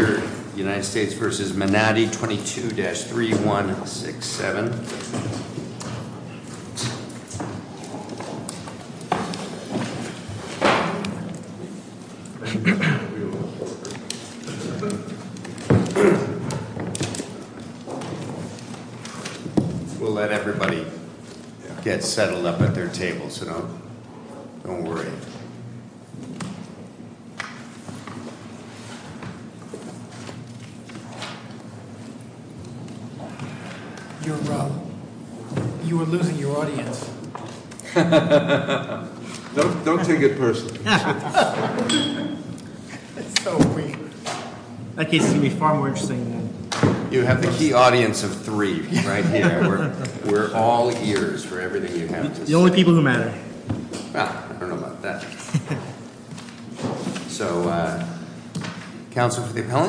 United States v. Manatee 22-3167 We'll let everybody get settled up at their table.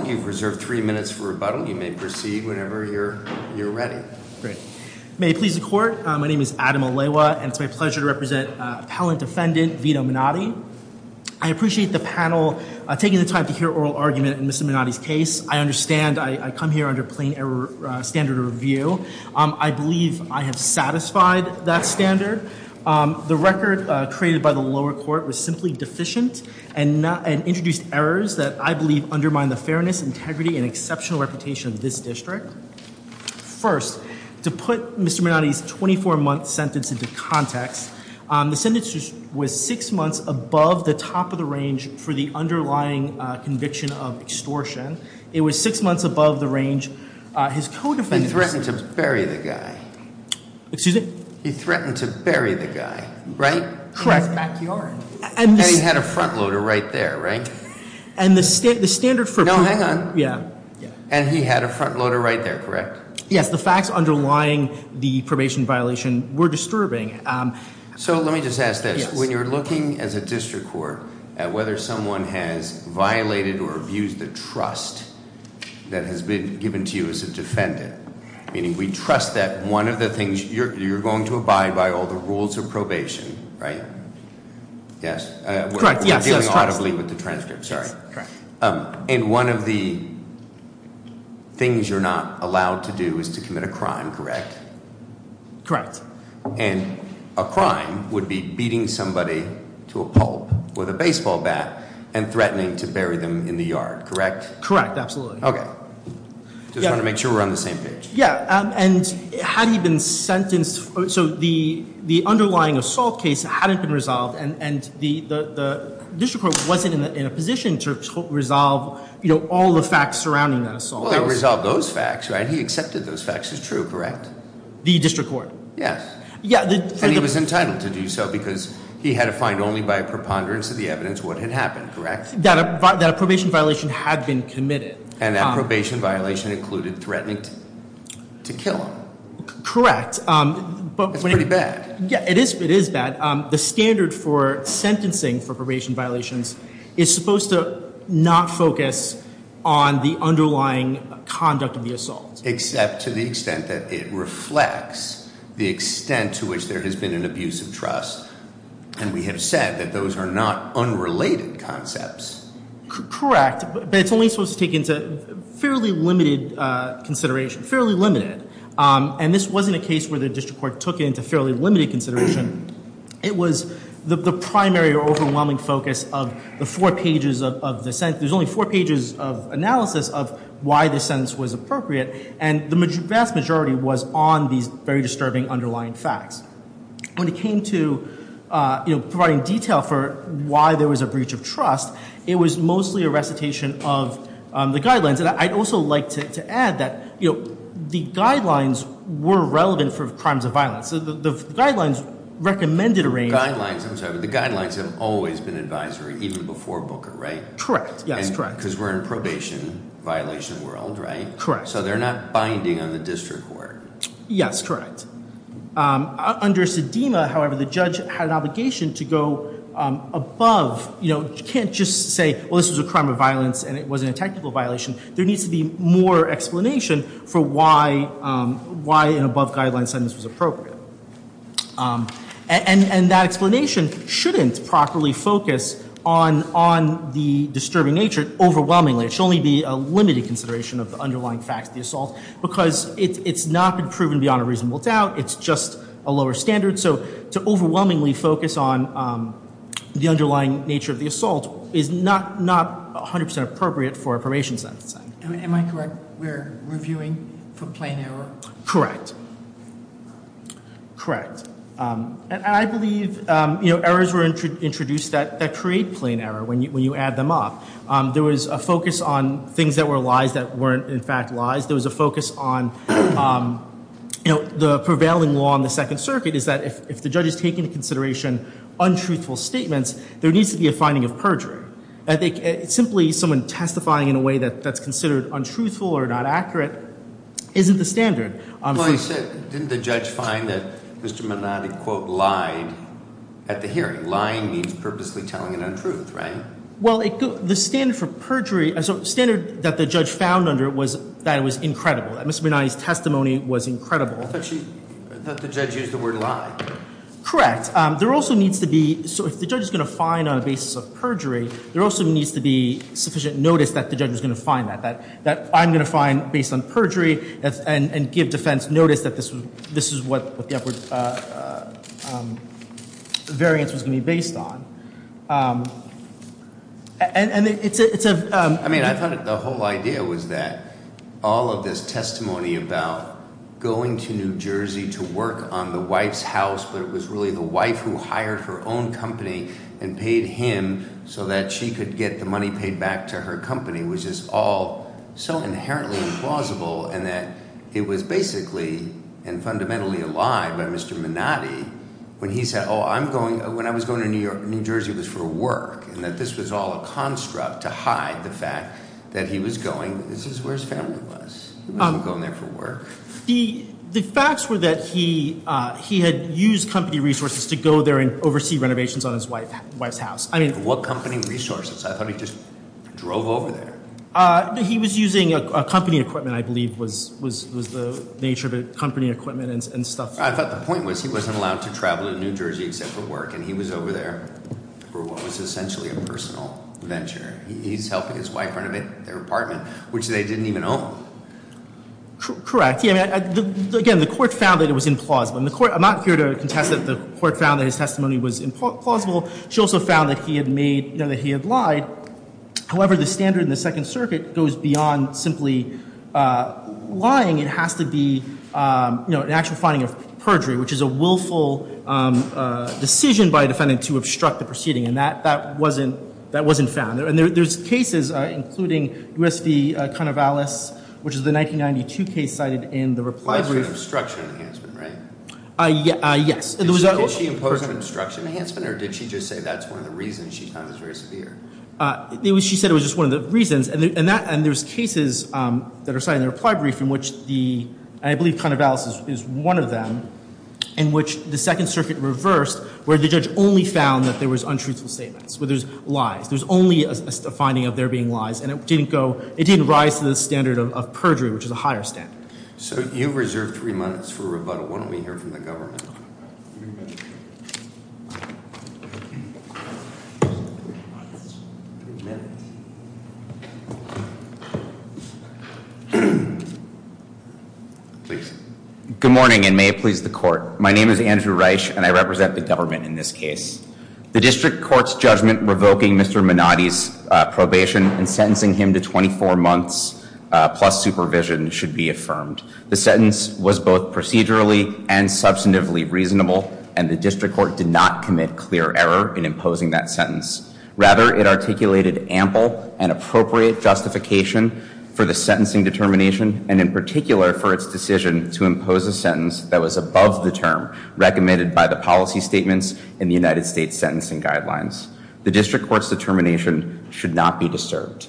You've reserved three minutes for rebuttal. You may proceed whenever you're ready. Great. May it please the Court, my name is Adam Alewa and it's my pleasure to represent Appellant Defendant Vito Manatee. I appreciate the panel taking the time to hear oral argument in Mr. Manatee's case. I understand I come here under plain error standard of review. I believe I have satisfied that standard. The record created by the lower court was simply deficient and introduced errors that I believe undermine the fairness, integrity and exceptional reputation of this district. First, to put Mr. Manatee's 24-month sentence into context, the sentence was six months above the top of the range for the underlying conviction of extortion. It was six months above the range. His co-defendant threatened to bury the guy. He threatened to bury the guy, right? Correct. In his backyard. And he had a front loader right there, right? No, hang on. Yeah. And he had a front loader right there, correct? Yes, the facts underlying the probation violation were disturbing. So let me just ask this. When you're looking as a district court at whether someone has meaning we trust that one of the things you're going to abide by all the rules of probation, right? Yes. We're dealing audibly with the transcript, sorry. And one of the things you're not allowed to do is to commit a crime, correct? Correct. And a crime would be beating somebody to a pulp with a baseball bat and threatening to bury them in the yard, correct? Correct, absolutely. Okay. Just want to make sure we're on the same page. Yeah. And had he been sentenced, so the underlying assault case hadn't been resolved and the district court wasn't in a position to resolve, you know, all the facts surrounding that assault. Well, they resolved those facts, right? He accepted those facts as true, correct? The district court? Yes. And he was entitled to do so because he had to find only by a preponderance of the evidence what had happened. And that probation violation included threatening to kill him. Correct. It's pretty bad. Yeah, it is bad. The standard for sentencing for probation violations is supposed to not focus on the underlying conduct of the assault. Except to the extent that it reflects the extent to which there has been an abuse of trust. And we have said that those are not unrelated concepts. Correct, but it's only supposed to take into fairly limited consideration. Fairly limited. And this wasn't a case where the district court took into fairly limited consideration. It was the primary or overwhelming focus of the four pages of the sentence. There's only four pages of analysis of why the sentence was appropriate. And the vast majority was on these very disturbing underlying facts. When it came to, you know, providing detail for why there was a breach of trust, it was mostly a recitation of the guidelines. And I'd also like to add that, you know, the guidelines were relevant for crimes of violence. So the guidelines recommended a range... Guidelines, I'm sorry, but the guidelines have always been advisory even before Booker, right? Correct. Yes, correct. Because we're in probation violation world, right? Correct. So they're not binding on the district court. Yes, correct. Under Sedema, however, the judge had an obligation to go above, you know, you can't just say, well, this was a crime of violence and it wasn't a technical violation. There needs to be more explanation for why an above guideline sentence was appropriate. And that explanation shouldn't properly focus on the disturbing nature overwhelmingly. It should only be a limited consideration of the underlying facts of the assault. Because it's not been proven beyond a reasonable doubt. It's just a lower standard. So to overwhelmingly focus on the underlying nature of the assault is not 100% appropriate for a probation sentence. Am I correct? We're reviewing for plain error? Correct. Correct. And I believe, you know, errors were introduced that create plain error when you add them up. There was a focus on things that were lies that weren't in fact lies. There was a focus on, you know, the prevailing law in the Second Circuit is that if the judge is taking into consideration untruthful statements, there needs to be a finding of perjury. Simply someone testifying in a way that's considered untruthful or not accurate isn't the standard. Well, didn't the judge find that Mr. Minotti, quote, lied at the hearing? Lying means purposely telling an untruth, right? Well, the standard for perjury, the standard that the judge found under it was that it was incredible. That Mr. Minotti's testimony was incredible. I thought the judge used the word lie. Correct. There also needs to be, so if the judge is going to find on the basis of perjury, there also needs to be sufficient notice that the judge is going to find that. That I'm going to find based on perjury and give defense notice that this is what the upward variance was going to be based on. I mean, I thought the whole idea was that all of this testimony about going to New Jersey to work on the wife's house but it was really the wife who hired her own company and paid him so that she could get the money paid back to her company was just all so inherently implausible and that it was basically and fundamentally a lie by Mr. Minotti when he said, oh, I'm going, when I was going to New Jersey it was for work and that this was all a construct to hide the fact that he was going, this is where his family was. He wasn't going there for work. The facts were that he had used company resources to go there and oversee renovations on his wife's house. What company resources? I thought he just drove over there. He was using company equipment, I believe was the nature of it, company equipment and stuff. I thought the point was he wasn't allowed to travel to New Jersey except for work and he was over there for what was essentially a personal venture. He's helping his wife renovate their apartment, which they didn't even own. Correct. Again, the court found that it was implausible. I'm not here to contest that the court found that his testimony was implausible. She also found that he had made, that he had lied. However, the standard in the Second Circuit goes beyond simply lying. It has to be an actual finding of perjury, which is a willful decision by a defendant to obstruct the proceeding. And that wasn't found. And there's cases, including U.S. v. Conor Vallis, which is the 1992 case cited in the reply brief. Yes. Did she impose an obstruction enhancement or did she just say that's one of the reasons she found this very severe? She said it was just one of the reasons. And there's cases that are cited in the reply brief in which the, I believe Conor Vallis is one of them, in which the Second Circuit reversed where the judge only found that there was untruthful statements, where there's lies. There's only a finding of there being lies. And it didn't go, it didn't rise to the standard of perjury, which is a higher standard. So you've reserved three minutes for rebuttal. Why don't we hear from the government? Please. Good morning, and may it please the court. My name is Andrew Reich, and I represent the government in this case. The district court's judgment revoking Mr. Minotti's probation and sentencing him to 24 months plus supervision should be affirmed. The sentence was both procedurally and substantively reasonable, and the district court did not commit clear error in imposing that sentence. Rather, it articulated ample and appropriate justification for the sentencing determination, and in particular for its decision to impose a sentence that was above the term recommended by the policy statements in the United States sentencing guidelines. The district court's determination should not be disturbed.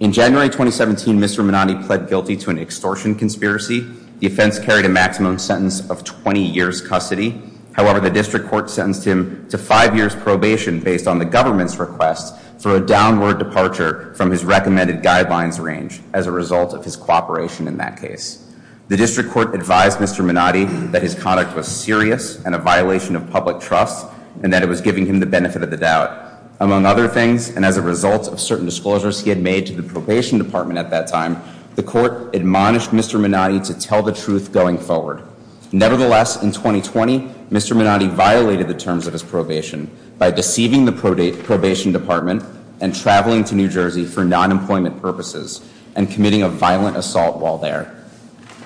In January 2017, Mr. Minotti pled guilty to an extortion conspiracy. The offense carried a maximum sentence of 20 years' custody. However, the district court sentenced him to five years' probation based on the government's request for a downward departure from his recommended guidelines range as a result of his cooperation in that case. The district court advised Mr. Minotti that his conduct was serious and a violation of public trust, and that it was giving him the benefit of the doubt. Among other things, and as a result of certain disclosures he had made to the probation department at that time, the court admonished Mr. Minotti to tell the truth going forward. Nevertheless, in 2020, Mr. Minotti violated the terms of his probation by deceiving the probation department and traveling to New Jersey for non-employment purposes and committing a violent assault while there.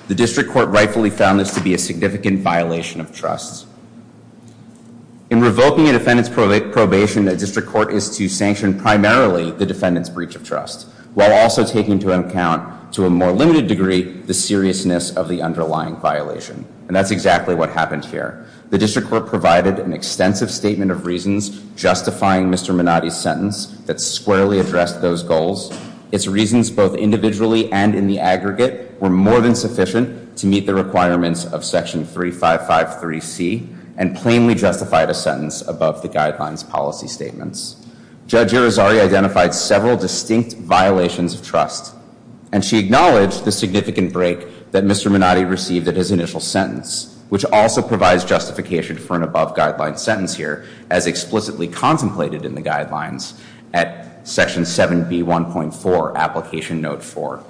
The district court rightfully found this to be a significant violation of trust. In revoking a defendant's probation, a district court is to sanction primarily the defendant's breach of trust while also taking into account, to a more limited degree, the seriousness of the underlying violation. And that's exactly what happened here. The district court provided an extensive statement of reasons justifying Mr. Minotti's sentence that squarely addressed those goals. Its reasons, both individually and in the aggregate, were more than sufficient to meet the requirements of Section 3553C and plainly justified a sentence above the guidelines policy statements. Judge Irizarry identified several distinct violations of trust, and she acknowledged the significant break that Mr. Minotti received at his initial sentence, which also provides justification for an above-guideline sentence here, as explicitly contemplated in the guidelines at Section 7B1.4, Application Note 4.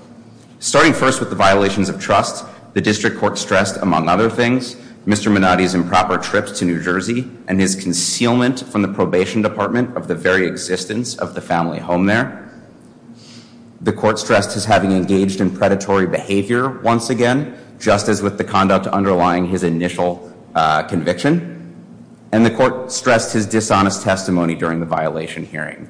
Starting first with the violations of trust, the district court stressed, among other things, Mr. Minotti's improper trips to New Jersey and his concealment from the probation department of the very existence of the family home there. The court stressed his having engaged in predatory behavior once again, just as with the conduct underlying his initial conviction. And the court stressed his dishonest testimony during the violation hearing,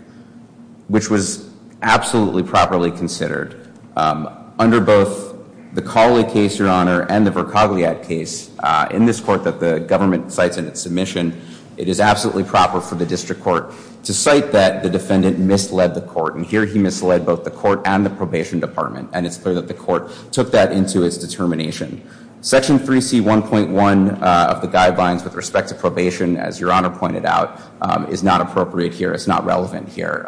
which was absolutely properly considered. Under both the Colley case, Your Honor, and the Vercogliat case in this court that the government cites in its submission, it is absolutely proper for the district court to cite that the defendant misled the court. And here he misled both the court and the probation department, and it's clear that the court took that into its determination. Section 3C1.1 of the guidelines with respect to probation, as Your Honor pointed out, is not appropriate here. It's not relevant here.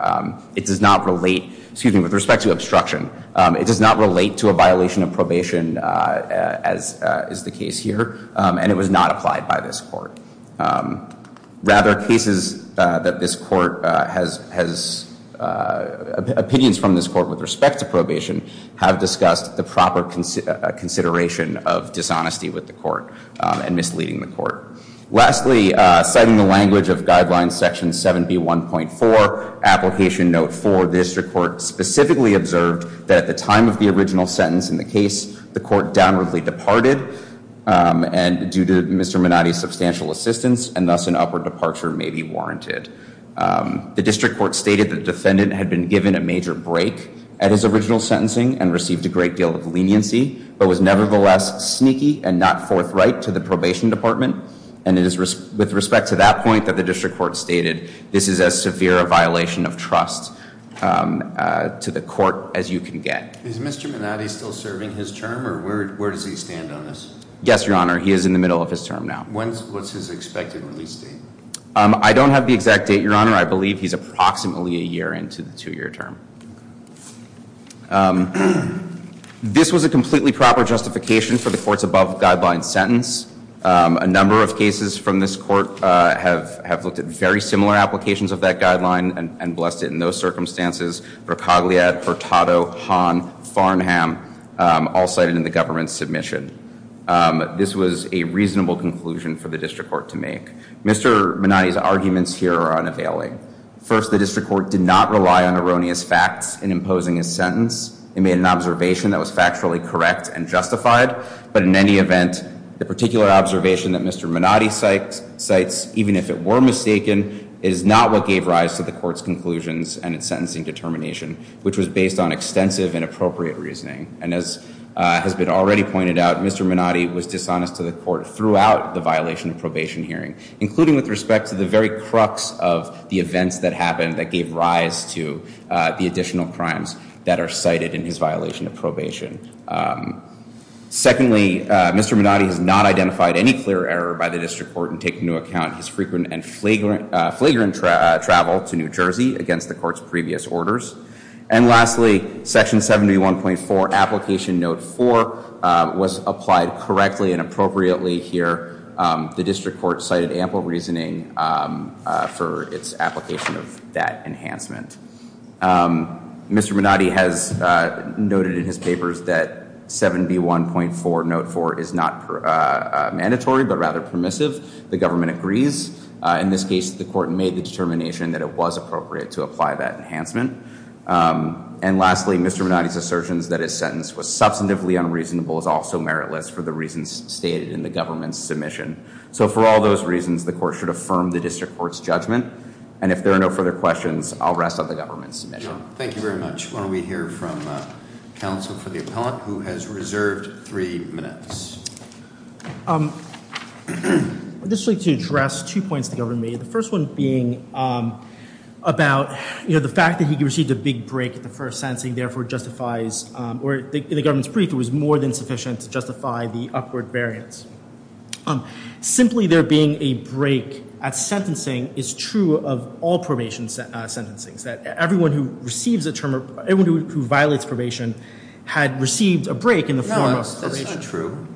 It does not relate, excuse me, with respect to obstruction. It does not relate to a violation of probation, as is the case here, and it was not applied by this court. Rather, cases that this court has, opinions from this court with respect to probation, have discussed the proper consideration of dishonesty with the court and misleading the court. Lastly, citing the language of Guidelines Section 71.4, Application Note 4, the district court specifically observed that at the time of the original sentence in the case, the court downwardly departed due to Mr. Minotti's substantial assistance, and thus an upward departure may be warranted. The district court stated the defendant had been given a major break at his original sentencing and received a great deal of leniency, but was nevertheless sneaky and not forthright to the probation department, and it is with respect to that point that the district court stated, this is as severe a violation of trust to the court as you can get. Is Mr. Minotti still serving his term, or where does he stand on this? Yes, Your Honor, he is in the middle of his term now. When was his expected release date? I don't have the exact date, Your Honor. Your Honor, I believe he's approximately a year into the two-year term. This was a completely proper justification for the court's above-guideline sentence. A number of cases from this court have looked at very similar applications of that guideline and blessed it in those circumstances for Cogliad, Hurtado, Hahn, Farnham, all cited in the government's submission. This was a reasonable conclusion for the district court to make. Mr. Minotti's arguments here are unavailing. First, the district court did not rely on erroneous facts in imposing his sentence. It made an observation that was factually correct and justified, but in any event, the particular observation that Mr. Minotti cites, even if it were mistaken, is not what gave rise to the court's conclusions and its sentencing determination, which was based on extensive and appropriate reasoning. And as has been already pointed out, Mr. Minotti was dishonest to the court throughout the violation of probation hearing, including with respect to the very crux of the events that happened that gave rise to the additional crimes that are cited in his violation of probation. Secondly, Mr. Minotti has not identified any clear error by the district court in taking into account his frequent and flagrant travel to New Jersey against the court's previous orders. And lastly, Section 7B1.4, Application Note 4, was applied correctly and appropriately here. The district court cited ample reasoning for its application of that enhancement. Mr. Minotti has noted in his papers that 7B1.4, Note 4, is not mandatory, but rather permissive. The government agrees. In this case, the court made the determination that it was appropriate to apply that enhancement. And lastly, Mr. Minotti's assertions that his sentence was substantively unreasonable is also meritless for the reasons stated in the government's submission. So for all those reasons, the court should affirm the district court's judgment. And if there are no further questions, I'll rest on the government's submission. Thank you very much. Why don't we hear from counsel for the appellant who has reserved three minutes. I'd just like to address two points the governor made. The first one being about, you know, the fact that he received a big break at the first sentencing, therefore justifies, or in the government's brief, it was more than sufficient to justify the upward variance. Simply there being a break at sentencing is true of all probation sentencings, that everyone who receives a term, everyone who violates probation had received a break in the form of probation. No, that's not true.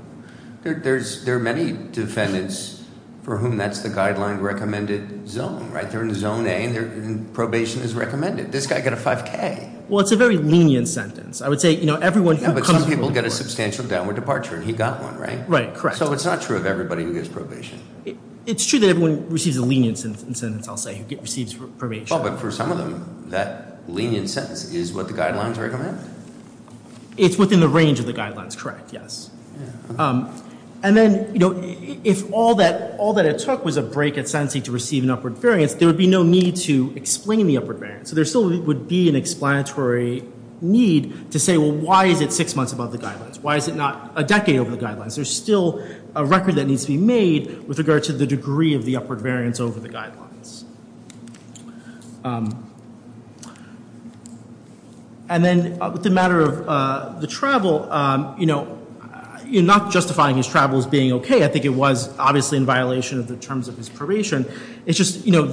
There are many defendants for whom that's the guideline recommended zone, right? They're in zone A, and probation is recommended. This guy got a 5K. Well, it's a very lenient sentence. I would say, you know, everyone who comes- Yeah, but some people get a substantial downward departure, and he got one, right? Right, correct. So it's not true of everybody who gets probation. It's true that everyone who receives a lenient sentence, I'll say, who receives probation. Well, but for some of them, that lenient sentence is what the guidelines recommend. It's within the range of the guidelines, correct, yes. And then, you know, if all that it took was a break at sentencing to receive an upward variance, there would be no need to explain the upward variance. So there still would be an explanatory need to say, well, why is it six months above the guidelines? Why is it not a decade over the guidelines? There's still a record that needs to be made with regard to the degree of the upward variance over the guidelines. And then, with the matter of the travel, you know, you're not justifying his travel as being okay. I think it was obviously in violation of the terms of his probation. It's just, you know,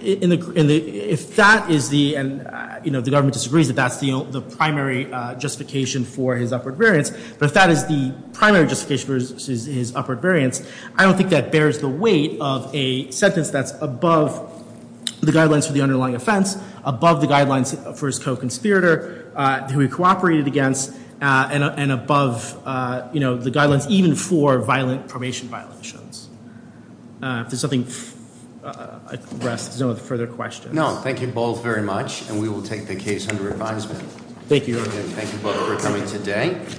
if that is the, you know, the government disagrees that that's the primary justification for his upward variance, but if that is the primary justification for his upward variance, I don't think that bears the weight of a sentence that's above the guidelines for the underlying offense, above the guidelines for his co-conspirator, who he cooperated against, and above, you know, the guidelines even for violent probation violations. If there's something, if there's no further questions. No, thank you both very much, and we will take the case under advisement. Thank you. Thank you both for coming today.